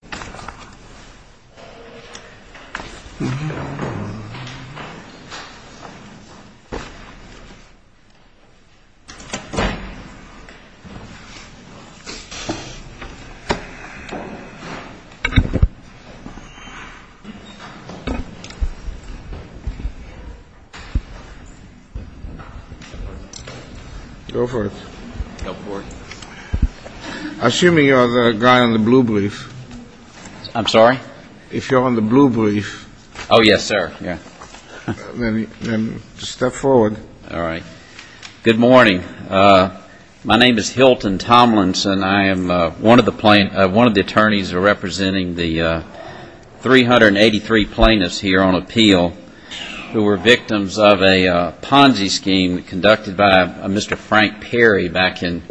The name is Hilton Tomlinson. I am one of the attorneys representing the 383 plaintiffs here on appeal who were victims of a Ponzi scheme conducted by Mr. Frank Perry back in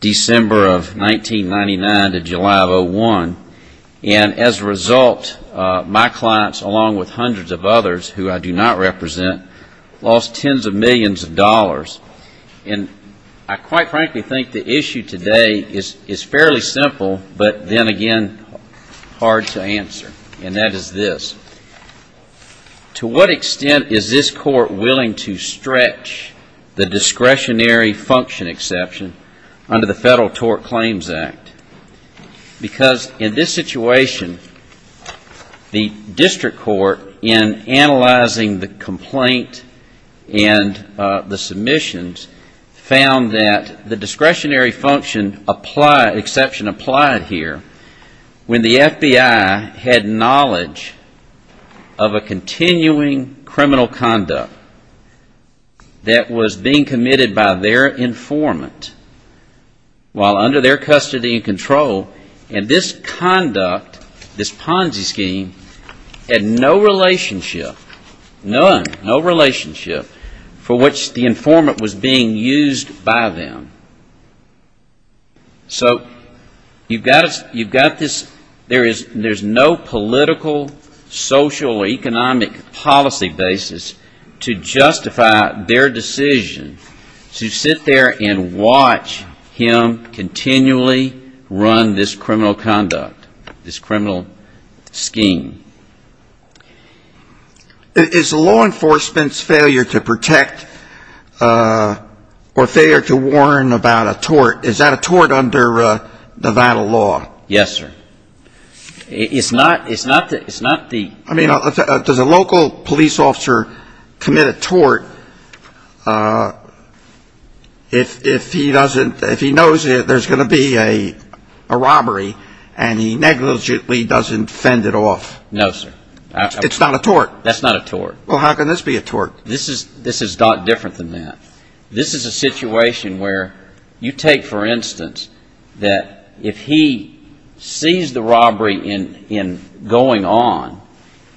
December of 1999 to July of 2001. As a result, my clients, along with hundreds of others who I do not represent, lost tens of millions of dollars. I quite frankly think the issue today is fairly simple, but then again hard to answer, and that is this. To what extent is this Court willing to stretch the discretionary function exception under the Federal Tort Claims Act? In this situation, the District Court, in analyzing the complaint and the submissions, found that the discretionary function exception applied here when the FBI had knowledge of a continuing criminal conduct that was being committed by their informant while under their custody and control, and this conduct, this Ponzi scheme, had no relationship, none, no relationship for which the informant was being used by them. So you've got this, there is no political, social, economic policy basis to justify their decision to sit there and watch him continually run this criminal conduct, this criminal scheme. Is law enforcement's failure to protect or failure to warn about a tort, is that a tort under Nevada law? Yes, sir. It's not the... I mean, does a local police officer commit a tort if he doesn't, if he knows there's going to be a robbery and he negligently doesn't fend it off? No, sir. It's not a tort? That's not a tort. Well, how can this be a tort? This is not different than that. This is a situation where you take, for instance, that if he sees the robbery going on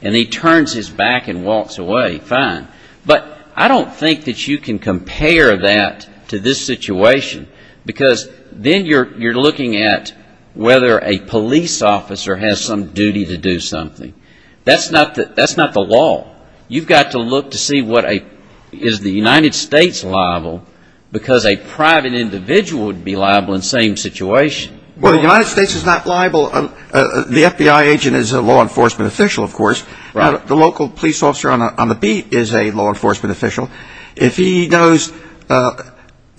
and he turns his back and walks away, fine. But I don't think that you can compare that to this situation because then you're looking at whether a police officer has some duty to do something. That's not the law. You've got to look to see is the United States liable because a private individual would be liable in the same situation. Well, the United States is not liable. The FBI agent is a law enforcement official, of course. The local police officer on the beat is a law enforcement official. If he knows,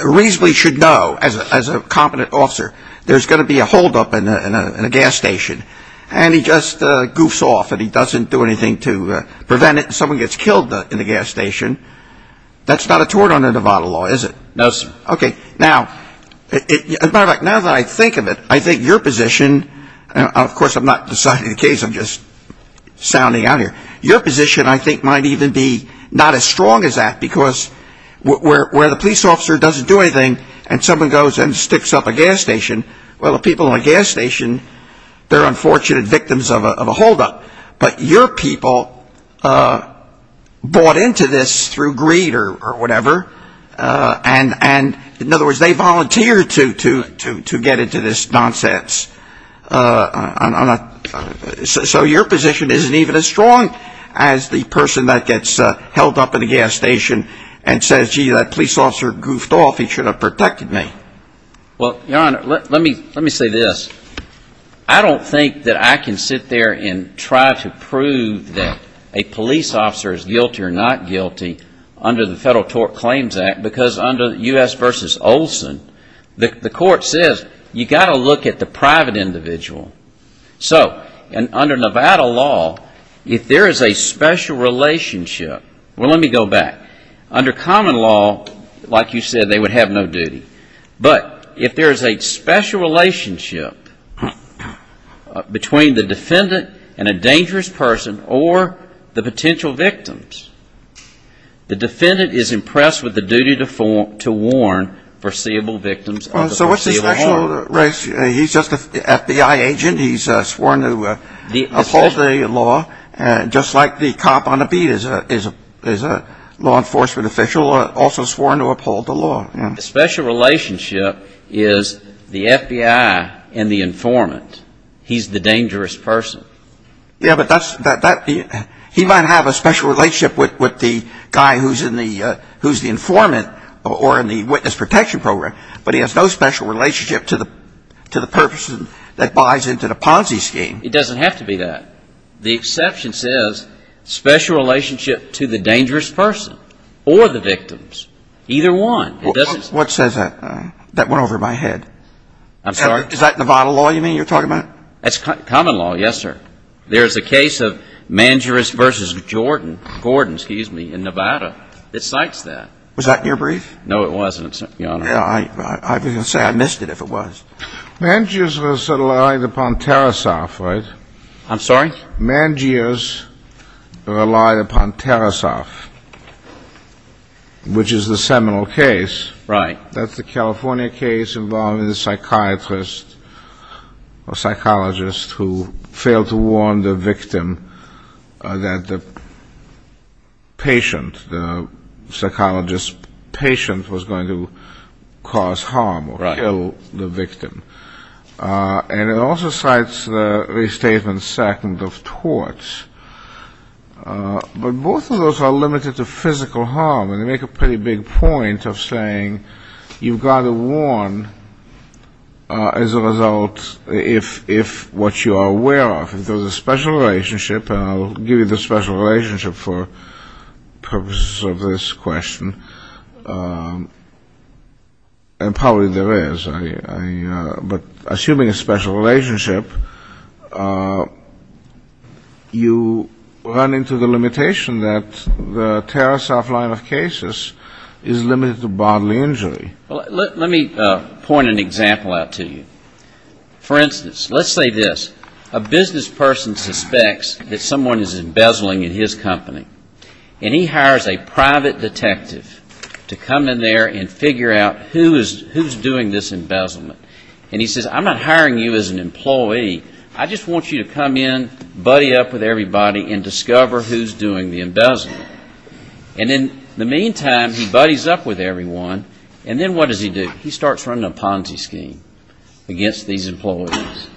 reasonably should know, as a competent officer, there's going to be a holdup in a gas station and he just goofs off and he doesn't do anything to prevent it and someone gets killed in the gas station, that's not a tort under Nevada law, is it? No, sir. Okay. Now, as a matter of fact, now that I think of it, I think your position, of course I'm not deciding the case, I'm just sounding out here, your position I think might even be not as strong as that because where the police officer doesn't do anything and someone goes and sticks up a gas station, well, the people in the gas station, they're unfortunate victims of a holdup. But your people bought into this through greed or whatever and, in other words, they volunteered to get into this nonsense. So your position isn't even as strong as the person that gets held up in the gas station and says, gee, that police officer goofed off, he should have protected me. Well, your Honor, let me say this. I don't think that I can sit there and try to prove that a police officer is guilty or not guilty under the Federal Tort Claims Act because under U.S. v. Olson, the court says you got to look at the private individual. So under Nevada law, if there is a special relationship, well, let me go back. Under common law, like you said, they would have no duty. But if there is a special relationship between the defendant and a dangerous person or the potential victims, the defendant is impressed with the duty to warn foreseeable victims of the foreseeable harm. He's just an FBI agent. He's sworn to uphold the law, just like the cop on a beat is a law enforcement official, also sworn to uphold the law. The special relationship is the FBI and the informant. He's the dangerous person. Yeah, but he might have a special relationship with the guy who's the informant or in the special relationship to the person that buys into the Ponzi scheme. It doesn't have to be that. The exception says special relationship to the dangerous person or the victims, either one. What says that? That went over my head. I'm sorry. Is that Nevada law you mean you're talking about? That's common law. Yes, sir. There is a case of Mangerous v. Gordon in Nevada that cites that. Was that in your brief? No, it wasn't, Your Honor. I was going to say I missed it if it was. Mangerous v. Gordon relied upon Tarasoff, right? I'm sorry? Mangerous relied upon Tarasoff, which is the seminal case. Right. That's the California case involving the psychiatrist or psychologist who failed to warn the victim that the patient, the psychologist's patient was going to cause harm or kill the victim. Right. And it also cites the statement second of torts, but both of those are limited to physical harm, and they make a pretty big point of saying you've got to warn as a result if what you are aware of. If there's a special relationship, and I'll give you the special relationship for purposes of this question, and probably there is, but assuming a special relationship, you run into the limitation that the Tarasoff line of cases is limited to bodily injury. Let me point an example out to you. For instance, let's say this. A business person suspects that someone is embezzling in his company, and he hires a private detective to come in there and figure out who's doing this embezzlement. And he says, I'm not hiring you as an employee. I just want you to come in, buddy up with everybody, and discover who's doing the embezzlement. And in the meantime, he buddies up with everyone, and then what does he do? He starts running a Ponzi scheme against these employees.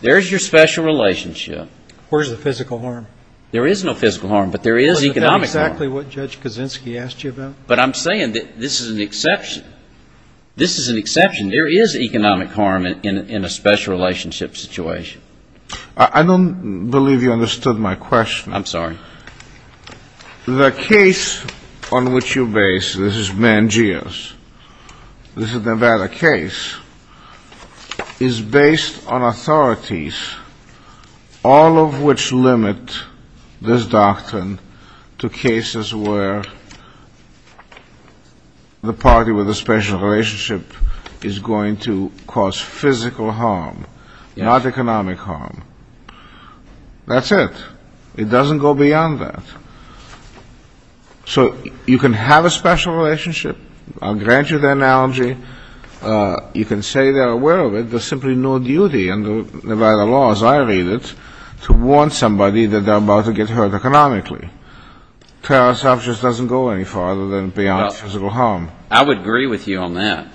There's your special relationship. Where's the physical harm? There is no physical harm, but there is economic harm. Wasn't that exactly what Judge Kaczynski asked you about? But I'm saying that this is an exception. This is an exception. There is economic harm in a special relationship situation. I don't believe you understood my question. I'm sorry. The case on which you base, this is Mangia's, this is the Nevada case, is based on authorities, all of which limit this doctrine to cases where the party with a special relationship is going to cause physical harm, not economic harm. That's it. It doesn't go beyond that. So you can have a special relationship. I'll grant you the analogy. You can say they're aware of it. There's simply no duty under Nevada law, as I read it, to warn somebody that they're about to get hurt economically. Fair enough just doesn't go any farther than beyond physical harm. I would agree with you on that.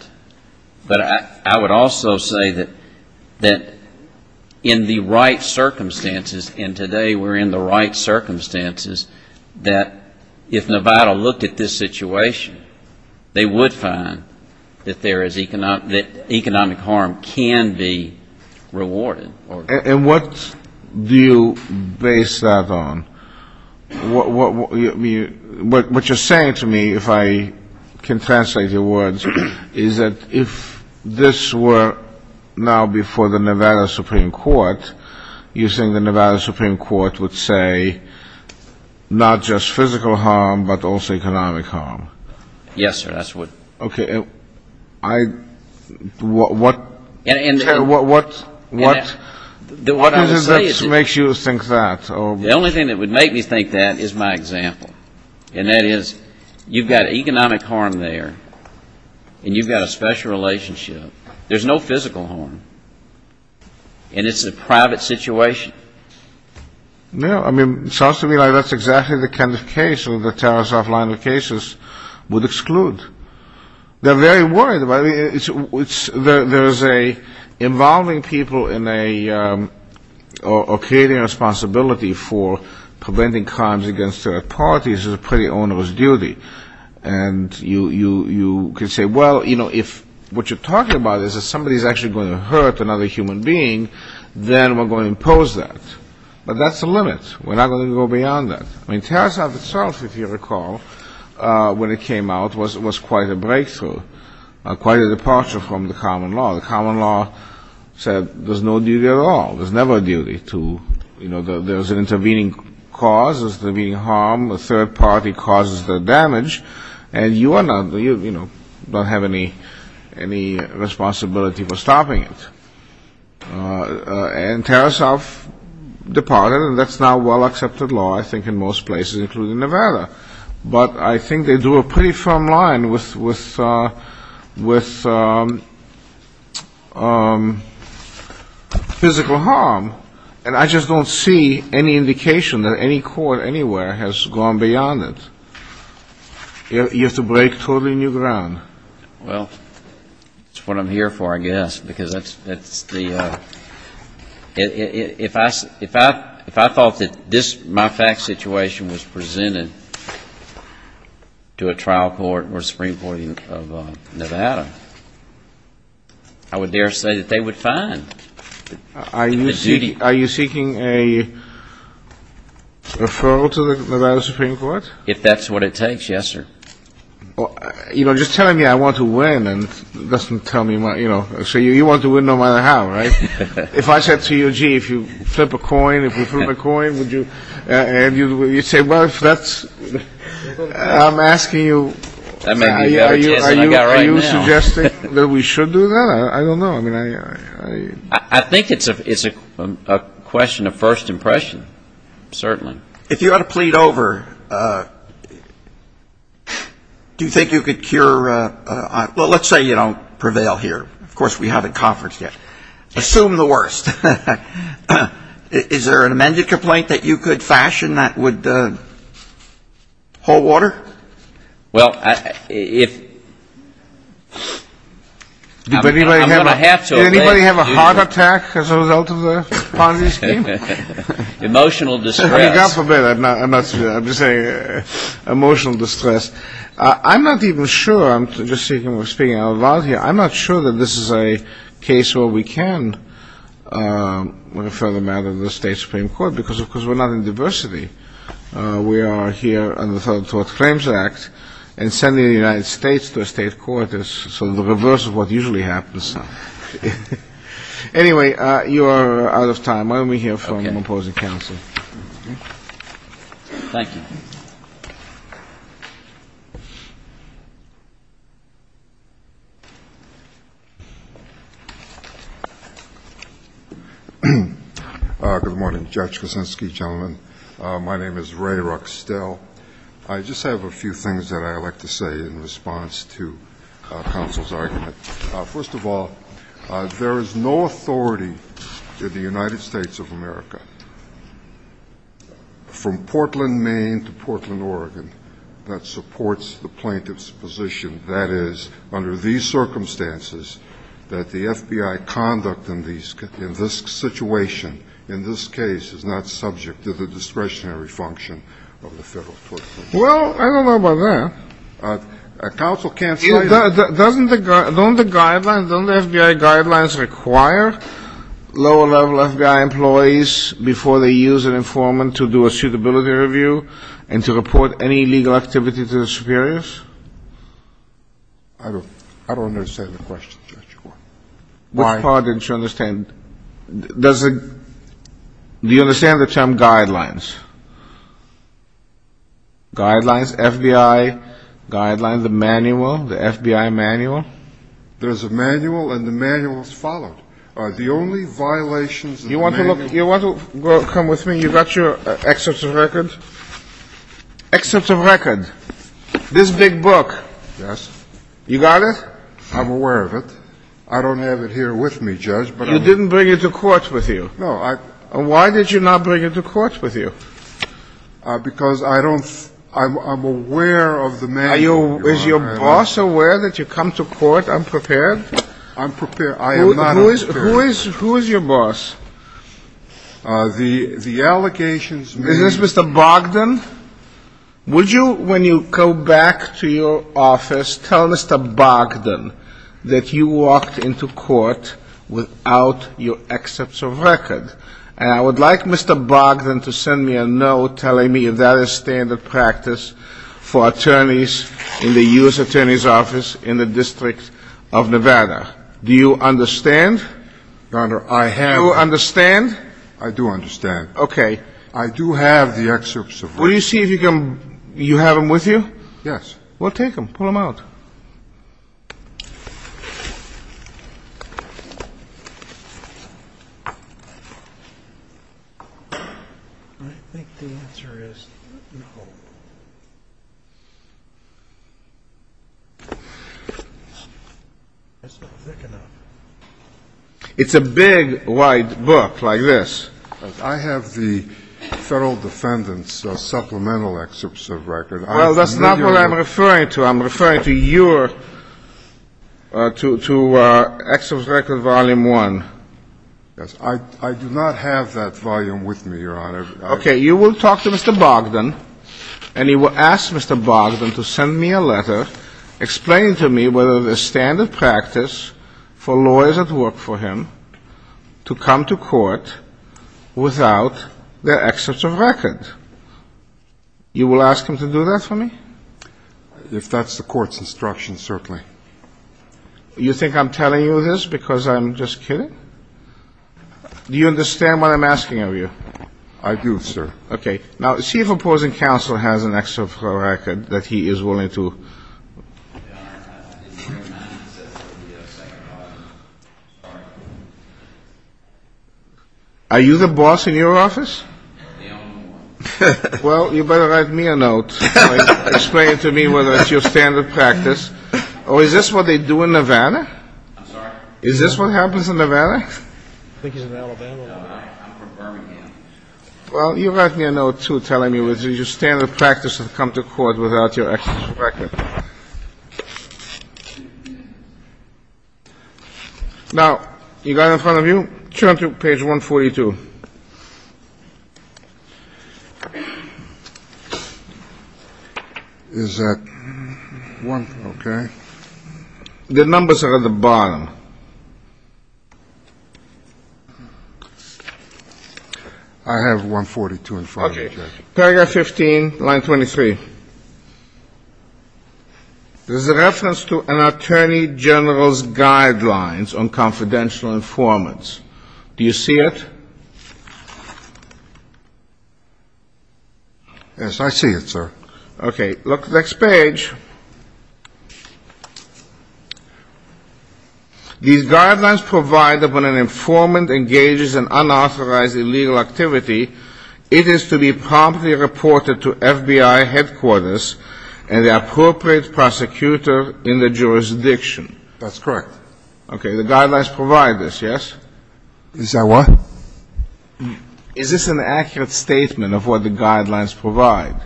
But I would also say that in the right circumstances, and today we're in the right circumstances, that if Nevada looked at this situation, they would find that economic harm can be rewarded. And what do you base that on? What you're saying to me, if I can translate your words, is that if this were now before the Nevada Supreme Court, you think the Nevada Supreme Court would say not just physical harm, but also economic harm? Yes, sir. That's what. Okay. What makes you think that? The only thing that would make me think that is my example. And that is, you've got economic harm there, and you've got a special relationship. There's no physical harm. And it's a private situation. No, I mean, it sounds to me like that's exactly the kind of case that the terrorist offline locations would exclude. They're very worried about it. There's a involving people in a, or creating a responsibility for preventing crimes against third parties is a pretty onerous duty. And you could say, well, you know, if what you're talking about is that somebody is actually going to hurt another human being, then we're going to impose that. But that's the limit. We're not going to go beyond that. I mean, Terrorist Office itself, if you recall, when it came out, was quite a breakthrough, quite a departure from the common law. The common law said there's no duty at all. There's never a duty to, you know, there's an intervening cause, there's intervening harm, a third party causes the damage, and you are not, you know, don't have any responsibility for stopping it. And Terrorist Office departed, and that's now a well-accepted law, I think, in most places, including Nevada. But I think they drew a pretty firm line with physical harm, and I just don't see any indication that any court anywhere has gone beyond it. You have to break totally new ground. Well, that's what I'm here for, I guess, because that's the, if I thought that my fact situation was presented to a trial court or a Supreme Court of Nevada, I would dare say that they would fine. Are you seeking a referral to the Nevada Supreme Court? If that's what it takes, yes, sir. You know, just telling me I want to win doesn't tell me, you know, so you want to win no matter how, right? If I said to you, gee, if you flip a coin, if you flip a coin, would you, and you say, well, if that's, I'm asking you. Are you suggesting that we should do that? I don't know. I think it's a question of first impression, certainly. If you had to plead over, do you think you could cure, well, let's say you don't prevail here. Of course, we haven't conferenced yet. Assume the worst. Is there an amended complaint that you could fashion that would hold water? Well, if I'm going to have to. Did anybody have a heart attack as a result of the Ponzi scheme? Emotional distress. I mean, God forbid. I'm just saying emotional distress. I'm not even sure. I'm just speaking out loud here. I'm not sure that this is a case where we can refer them out of the state Supreme Court because, of course, we're not in diversity. We are here under the Federal Tort Claims Act and sending the United States to a state court is sort of the reverse of what usually happens. Anyway, you are out of time. Let me hear from the opposing counsel. Thank you. Good morning, Judge Kuczynski, gentlemen. My name is Ray Ruckstell. I just have a few things that I would like to say in response to counsel's argument. First of all, there is no authority in the United States of America from Portland, Maine, to Portland, Oregon, that supports the plaintiff's position. That is, under these circumstances, that the FBI conduct in this situation, in this case, is not subject to the discretionary function of the Federal Tort Claims Act. Well, I don't know about that. Counsel can't say that. Don't the guidelines, don't the FBI guidelines require lower-level FBI employees before they use an informant to do a suitability review and to report any illegal activity to the superiors? I don't understand the question, Judge. Pardon? Do you understand the term guidelines? Guidelines, FBI guidelines, the manual, the FBI manual? There's a manual, and the manual is followed. The only violations of the manual — You want to look, you want to come with me? You got your excerpts of record? Excerpts of record. This big book. Yes. You got it? I'm aware of it. I don't have it here with me, Judge, but — You didn't bring it to court with you. No, I — Why did you not bring it to court with you? Because I don't — I'm aware of the manual. Is your boss aware that you come to court unprepared? I'm prepared. I am not unprepared. Who is your boss? The allegations — Is this Mr. Bogdan? Would you, when you go back to your office, tell Mr. Bogdan that you walked into court without your excerpts of record? And I would like Mr. Bogdan to send me a note telling me if that is standard practice for attorneys in the U.S. Attorney's Office in the District of Nevada. Do you understand? Your Honor, I have — Do you understand? I do understand. Okay. I do have the excerpts of record. Will you see if you can — you have them with you? Yes. Well, take them. Pull them out. I think the answer is no. It's not thick enough. It's a big, wide book like this. I have the Federal Defendant's supplemental excerpts of record. Well, that's not what I'm referring to. I'm referring to your — to excerpts of record volume one. Yes. I do not have that volume with me, Your Honor. Okay. You will talk to Mr. Bogdan, and you will ask Mr. Bogdan to send me a letter explaining to me whether there's standard practice for lawyers at work for him to come to court without their excerpts of record. You will ask him to do that for me? If that's the court's instruction, certainly. You think I'm telling you this because I'm just kidding? Do you understand what I'm asking of you? I do, sir. Okay. Now, see if opposing counsel has an excerpt of record that he is willing to — Are you the boss in your office? No. Well, you better write me a note explaining to me whether that's your standard practice. Or is this what they do in Nevada? I'm sorry? Is this what happens in Nevada? I think he's in Alabama. No, I'm from Birmingham. Well, you write me a note, too, telling me whether your standard practice is to come to court without your excerpts of record. Now, you got it in front of you? Turn to page 142. Is that one? Okay. The numbers are at the bottom. I have 142 in front of me. Okay. Paragraph 15, line 23. This is a reference to an attorney general's guidelines on confidential informants. Do you see it? Yes, I see it, sir. Okay. Look at the next page. These guidelines provide that when an informant engages in unauthorized illegal activity, it is to be promptly reported to FBI headquarters and the appropriate prosecutor in the jurisdiction. That's correct. Okay. The guidelines provide this, yes? Is that one? Is this an accurate statement of what the guidelines provide?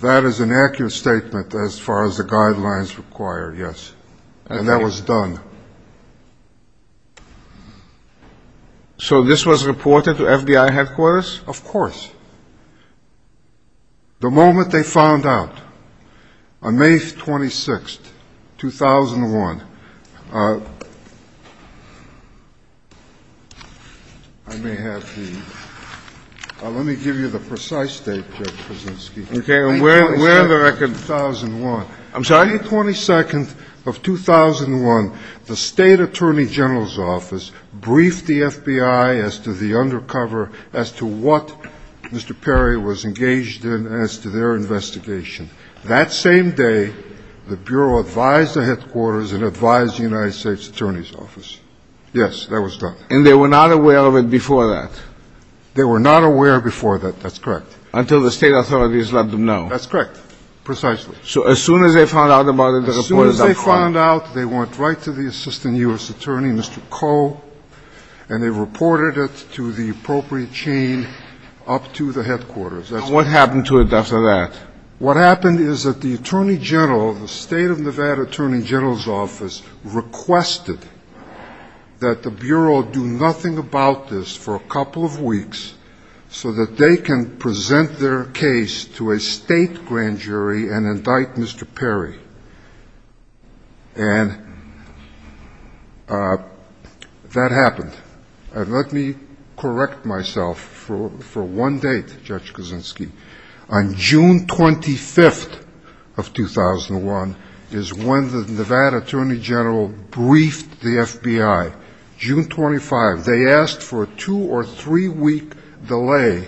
That is an accurate statement as far as the guidelines require, yes. Okay. And that was done. So this was reported to FBI headquarters? Of course. The moment they found out, on May 26th, 2001, I may have the ‑‑ let me give you the precise date, Judge Krasinski. Okay. And where are the records? May 22nd, 2001. I'm sorry? On May 22nd of 2001, the State Attorney General's Office briefed the FBI as to the undercover, as to what Mr. Perry was engaged in, as to their investigation. That same day, the Bureau advised the headquarters and advised the United States Attorney's Office. Yes, that was done. And they were not aware of it before that? They were not aware before that. That's correct. Until the State authorities let them know. That's correct, precisely. So as soon as they found out about it, they reported it? As soon as they found out, they went right to the Assistant U.S. Attorney, Mr. Koh, and they reported it to the appropriate chain up to the headquarters. What happened to it after that? What happened is that the Attorney General, the State of Nevada Attorney General's Office, requested that the Bureau do nothing about this for a couple of weeks so that they can present their case to a State grand jury and indict Mr. Perry. And that happened. And let me correct myself for one date, Judge Kuczynski. On June 25th of 2001 is when the Nevada Attorney General briefed the FBI. June 25th. They asked for a two- or three-week delay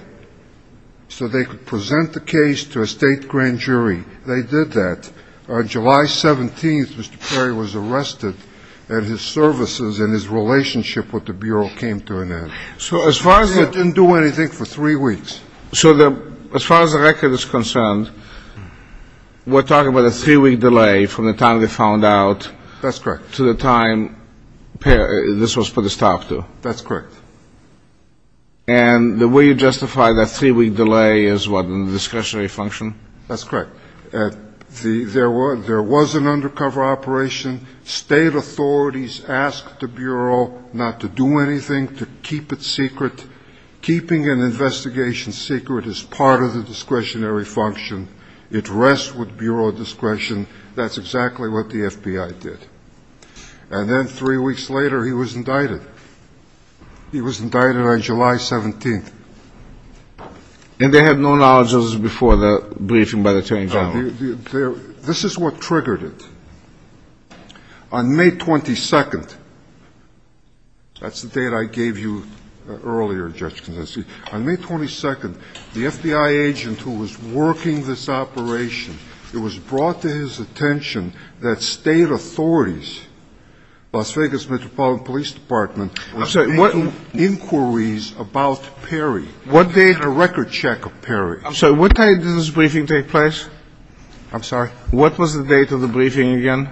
so they could present the case to a State grand jury. They did that. On July 17th, Mr. Perry was arrested, and his services and his relationship with the Bureau came to an end. So as far as the ---- They didn't do anything for three weeks. So as far as the record is concerned, we're talking about a three-week delay from the time they found out ---- That's correct. To the time this was put to stop to. That's correct. And the way you justify that three-week delay is what, in the discretionary function? That's correct. There was an undercover operation. State authorities asked the Bureau not to do anything, to keep it secret. Keeping an investigation secret is part of the discretionary function. It rests with Bureau discretion. That's exactly what the FBI did. And then three weeks later, he was indicted. He was indicted on July 17th. And they had no knowledge of this before the briefing by the Attorney General? This is what triggered it. On May 22nd ---- That's the date I gave you earlier, Judge Kondoski. On May 22nd, the FBI agent who was working this operation, it was brought to his attention that State authorities, Las Vegas Metropolitan Police Department, were making inquiries about Perry. What date? And a record check of Perry. I'm sorry. What date did this briefing take place? I'm sorry? What was the date of the briefing again?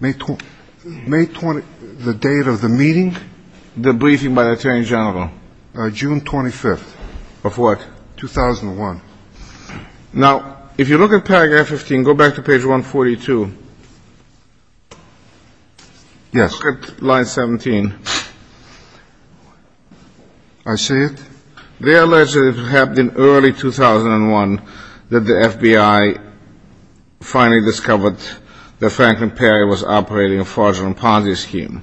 May 20th. The date of the meeting? The briefing by the Attorney General. June 25th. Of what? 2001. Now, if you look at paragraph 15, go back to page 142. Yes. Look at line 17. I see it. They alleged that it happened in early 2001 that the FBI finally discovered that Franklin Perry was operating a fraudulent Ponzi scheme.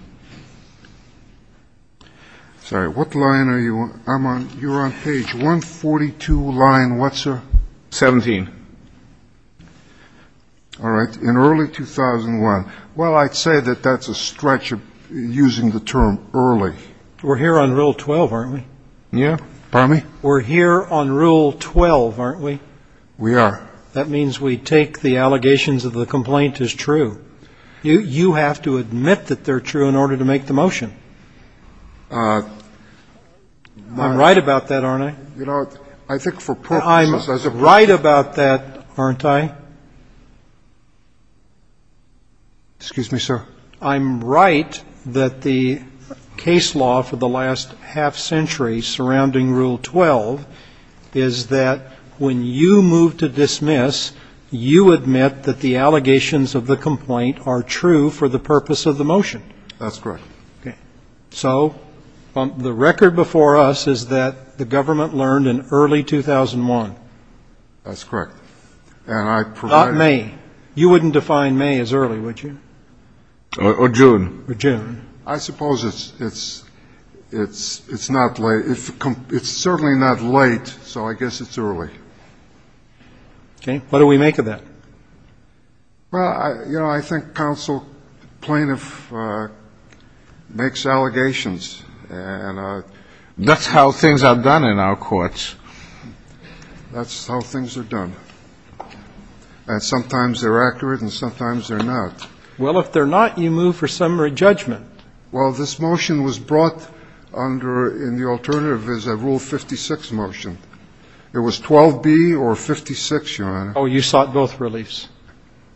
Sorry. What line are you on? You're on page 142 line what, sir? 17. All right. In early 2001. Well, I'd say that that's a stretch of using the term early. We're here on Rule 12, aren't we? Yeah. Pardon me? We're here on Rule 12, aren't we? We are. That means we take the allegations of the complaint as true. You have to admit that they're true in order to make the motion. I'm right about that, aren't I? You know, I think for purposes of the briefing. I'm right about that, aren't I? Excuse me, sir? I'm right that the case law for the last half century surrounding Rule 12 is that when you move to dismiss, you admit that the allegations of the complaint are true for the purpose of the motion. That's correct. Okay. So the record before us is that the government learned in early 2001. That's correct. And I provided. Not May. You wouldn't define May as early, would you? Or June. Or June. I suppose it's not late. It's certainly not late, so I guess it's early. Okay. What do we make of that? Well, you know, I think counsel plaintiff makes allegations. And that's how things are done in our courts. That's how things are done. And sometimes they're accurate and sometimes they're not. Well, if they're not, you move for summary judgment. Well, this motion was brought under in the alternative is a Rule 56 motion. It was 12B or 56, Your Honor. Oh, you sought both reliefs.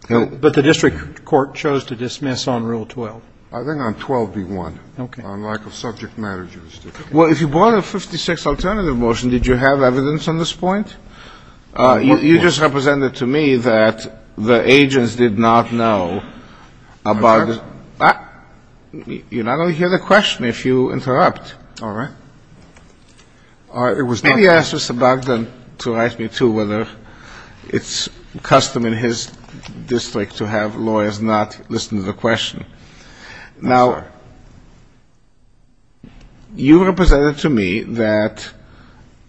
But the district court chose to dismiss on Rule 12. I think on 12B-1. Okay. On lack of subject matter jurisdiction. Well, if you brought a 56 alternative motion, did you have evidence on this point? You just represented to me that the agents did not know about the ‑‑ I heard. You not only hear the question if you interrupt. All right. Maybe ask Mr. Bogdan to write me, too, whether it's custom in his district to have lawyers not listen to the question. Yes, sir. You represented to me that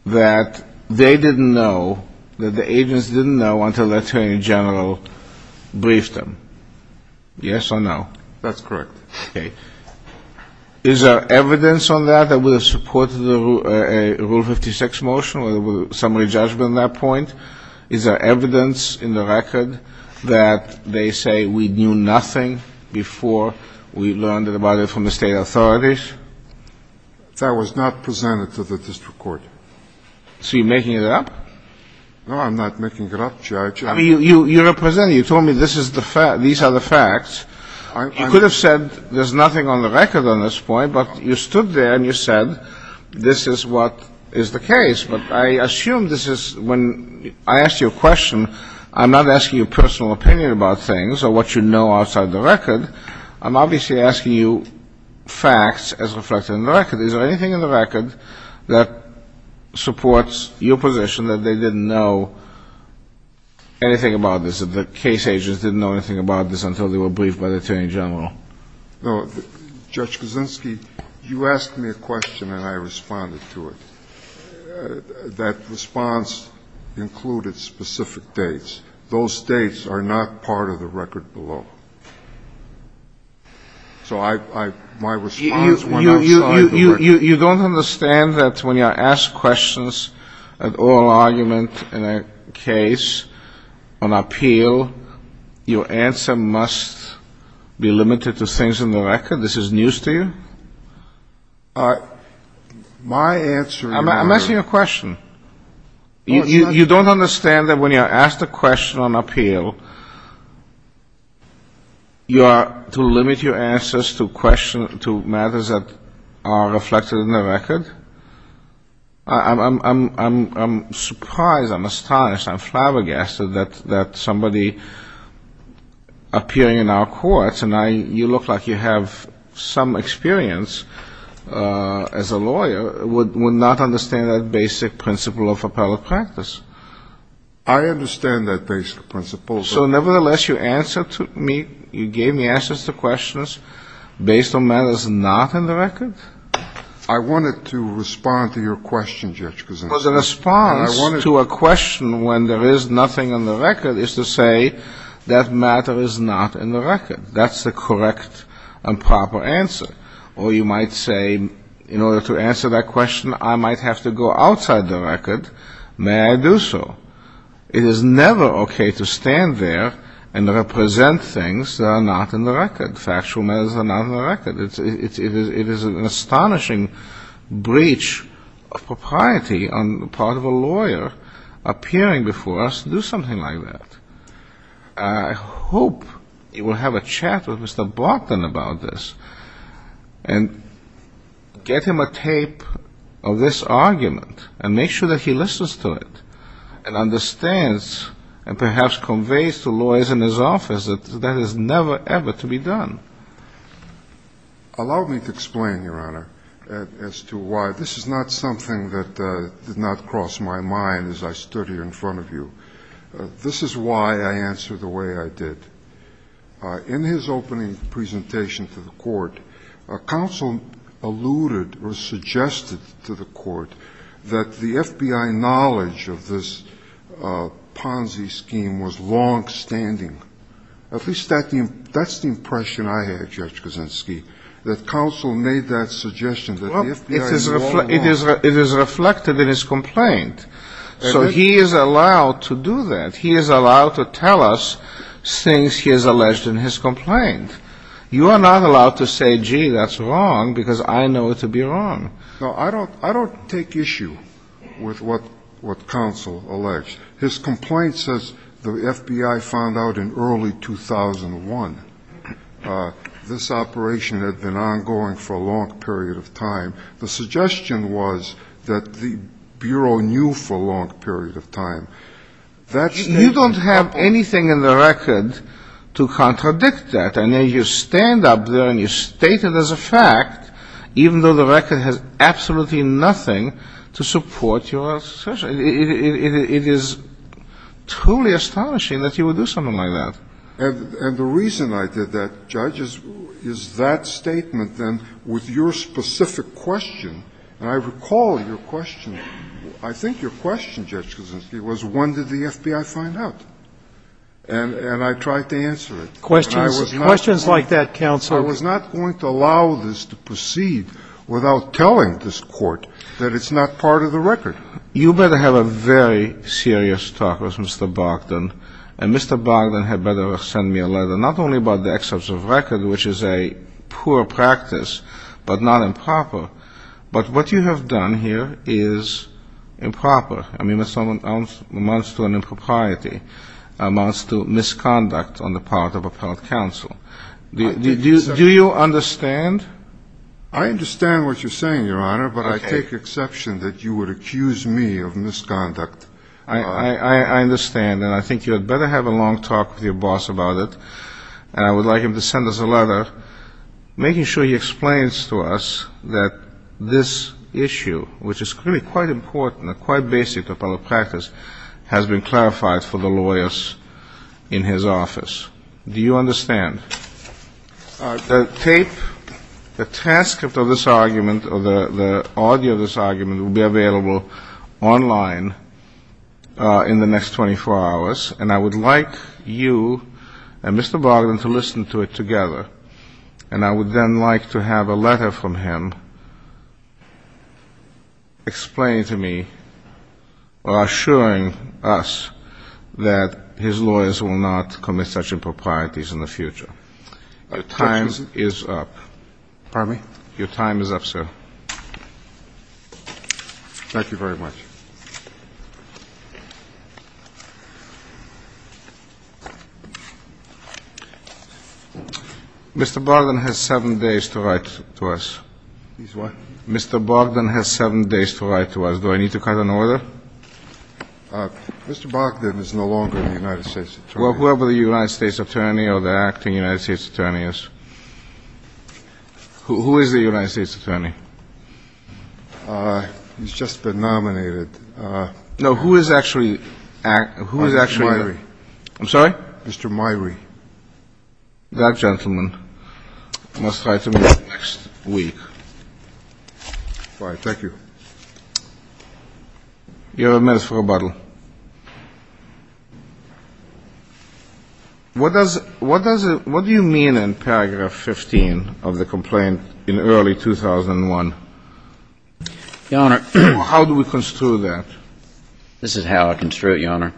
they didn't know, that the agents didn't know until the attorney general briefed them. Yes or no? That's correct. Okay. Is there evidence on that that would have supported a Rule 56 motion or summary judgment on that point? Is there evidence in the record that they say we knew nothing before we learned about it from the state authorities? That was not presented to the district court. So you're making it up? No, I'm not making it up, Judge. You represented. You told me these are the facts. You could have said there's nothing on the record on this point, but you stood there and you said this is what is the case. But I assume this is when I asked you a question, I'm not asking your personal opinion about things or what you know outside the record. I'm obviously asking you facts as reflected in the record. Is there anything in the record that supports your position that they didn't know anything about this, that the case agents didn't know anything about this until they were briefed by the attorney general? No. Judge Kaczynski, you asked me a question and I responded to it. That response included specific dates. Those dates are not part of the record below. So my response went outside the record. You don't understand that when you ask questions at oral argument in a case on appeal, your answer must be limited to things in the record? This is news to you? My answer is no. I'm asking you a question. You don't understand that when you're asked a question on appeal, you are to limit your answers to questions, to matters that are reflected in the record? I'm surprised, I'm astonished, I'm flabbergasted that somebody appearing in our courts, and you look like you have some experience as a lawyer, would not understand that basic principle of appellate practice. I understand that basic principle. So nevertheless, you answered to me, you gave me answers to questions based on matters not in the record? I wanted to respond to your question, Judge Kuznicki. The response to a question when there is nothing in the record is to say that matter is not in the record. That's the correct and proper answer. Or you might say, in order to answer that question, I might have to go outside the record. May I do so? It is never okay to stand there and represent things that are not in the record, factual matters that are not in the record. It is an astonishing breach of propriety on the part of a lawyer appearing before us to do something like that. I hope you will have a chat with Mr. Broughton about this, and get him a tape of this argument, and make sure that he listens to it, and understands, and perhaps conveys to lawyers in his office that that is never, ever to be done. Allow me to explain, Your Honor, as to why this is not something that did not cross my mind as I stood here in front of you. This is why I answered the way I did. Counsel alluded or suggested to the court that the FBI knowledge of this Ponzi scheme was longstanding. At least that's the impression I had, Judge Kaczynski, that counsel made that suggestion, that the FBI was longstanding. It is reflected in his complaint. So he is allowed to do that. He is allowed to tell us things he has alleged in his complaint. You are not allowed to say, gee, that's wrong, because I know it to be wrong. No, I don't take issue with what counsel alleges. His complaint says the FBI found out in early 2001 this operation had been ongoing for a long period of time. The suggestion was that the Bureau knew for a long period of time. You don't have anything in the record to contradict that. I know you stand up there and you state it as a fact, even though the record has absolutely nothing to support your assertion. It is truly astonishing that you would do something like that. And the reason I did that, Judge, is that statement, then, with your specific question. And I recall your question. I think your question, Judge Kaczynski, was when did the FBI find out? And I tried to answer it. Questions like that, counsel. I was not going to allow this to proceed without telling this Court that it's not part of the record. You better have a very serious talk with Mr. Bogdan. And Mr. Bogdan had better send me a letter, not only about the excerpts of record, which is a poor practice but not improper, but what you have done here is improper. I mean, it amounts to an impropriety. It amounts to misconduct on the part of appellate counsel. Do you understand? I understand what you're saying, Your Honor, but I take exception that you would accuse me of misconduct. I understand. And I think you had better have a long talk with your boss about it. And I would like him to send us a letter making sure he explains to us that this issue, which is clearly quite important and quite basic to appellate practice, has been clarified for the lawyers in his office. Do you understand? The tape, the transcript of this argument, or the audio of this argument will be available online in the next 24 hours. And I would like you and Mr. Bogdan to listen to it together. And I would then like to have a letter from him explaining to me or assuring us that his lawyers will not commit such improprieties in the future. Your time is up. Pardon me? Your time is up, sir. Thank you very much. Mr. Bogdan has seven days to write to us. He's what? Mr. Bogdan has seven days to write to us. Do I need to cut an order? Mr. Bogdan is no longer the United States attorney. Well, whoever the United States attorney or the acting United States attorney is. Who is the United States attorney? He's just been nominated. No, who is actually? Mr. Myrie. I'm sorry? Mr. Myrie. That gentleman must write to me next week. All right. Thank you. You have a minute for rebuttal. What do you mean in paragraph 15 of the complaint in early 2001? Your Honor. How do we construe that? This is how I construe it, Your Honor.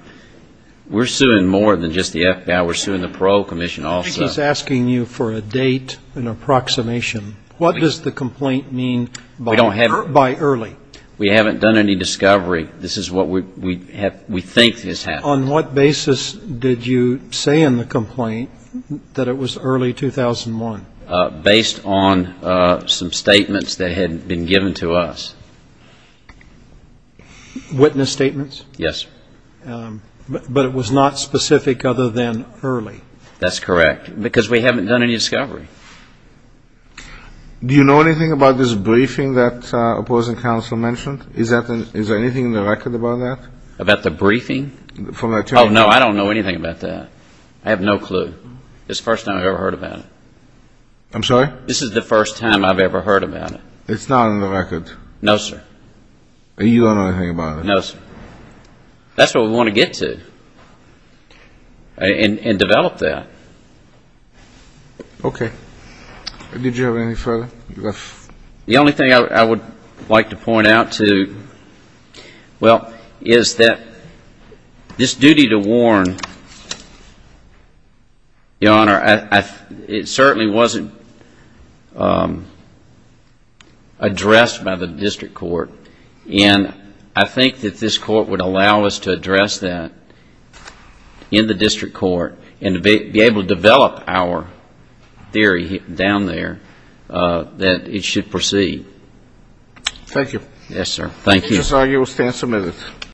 We're suing more than just the FBI. We're suing the Parole Commission also. I think he's asking you for a date, an approximation. What does the complaint mean by early? We haven't done any discovery. This is what we think has happened. On what basis did you say in the complaint that it was early 2001? Based on some statements that had been given to us. Witness statements? Yes. But it was not specific other than early? That's correct, because we haven't done any discovery. Do you know anything about this briefing that opposing counsel mentioned? Is there anything in the record about that? About the briefing? Oh, no, I don't know anything about that. I have no clue. It's the first time I've ever heard about it. I'm sorry? This is the first time I've ever heard about it. It's not on the record? No, sir. You don't know anything about it? No, sir. That's what we want to get to and develop that. Okay. Did you have anything further? The only thing I would like to point out is that this duty to warn, Your Honor, it certainly wasn't addressed by the district court. And I think that this court would allow us to address that in the district court and to be able to develop our theory down there that it should proceed. Thank you. Yes, sir. Thank you. This argument will stand submitted.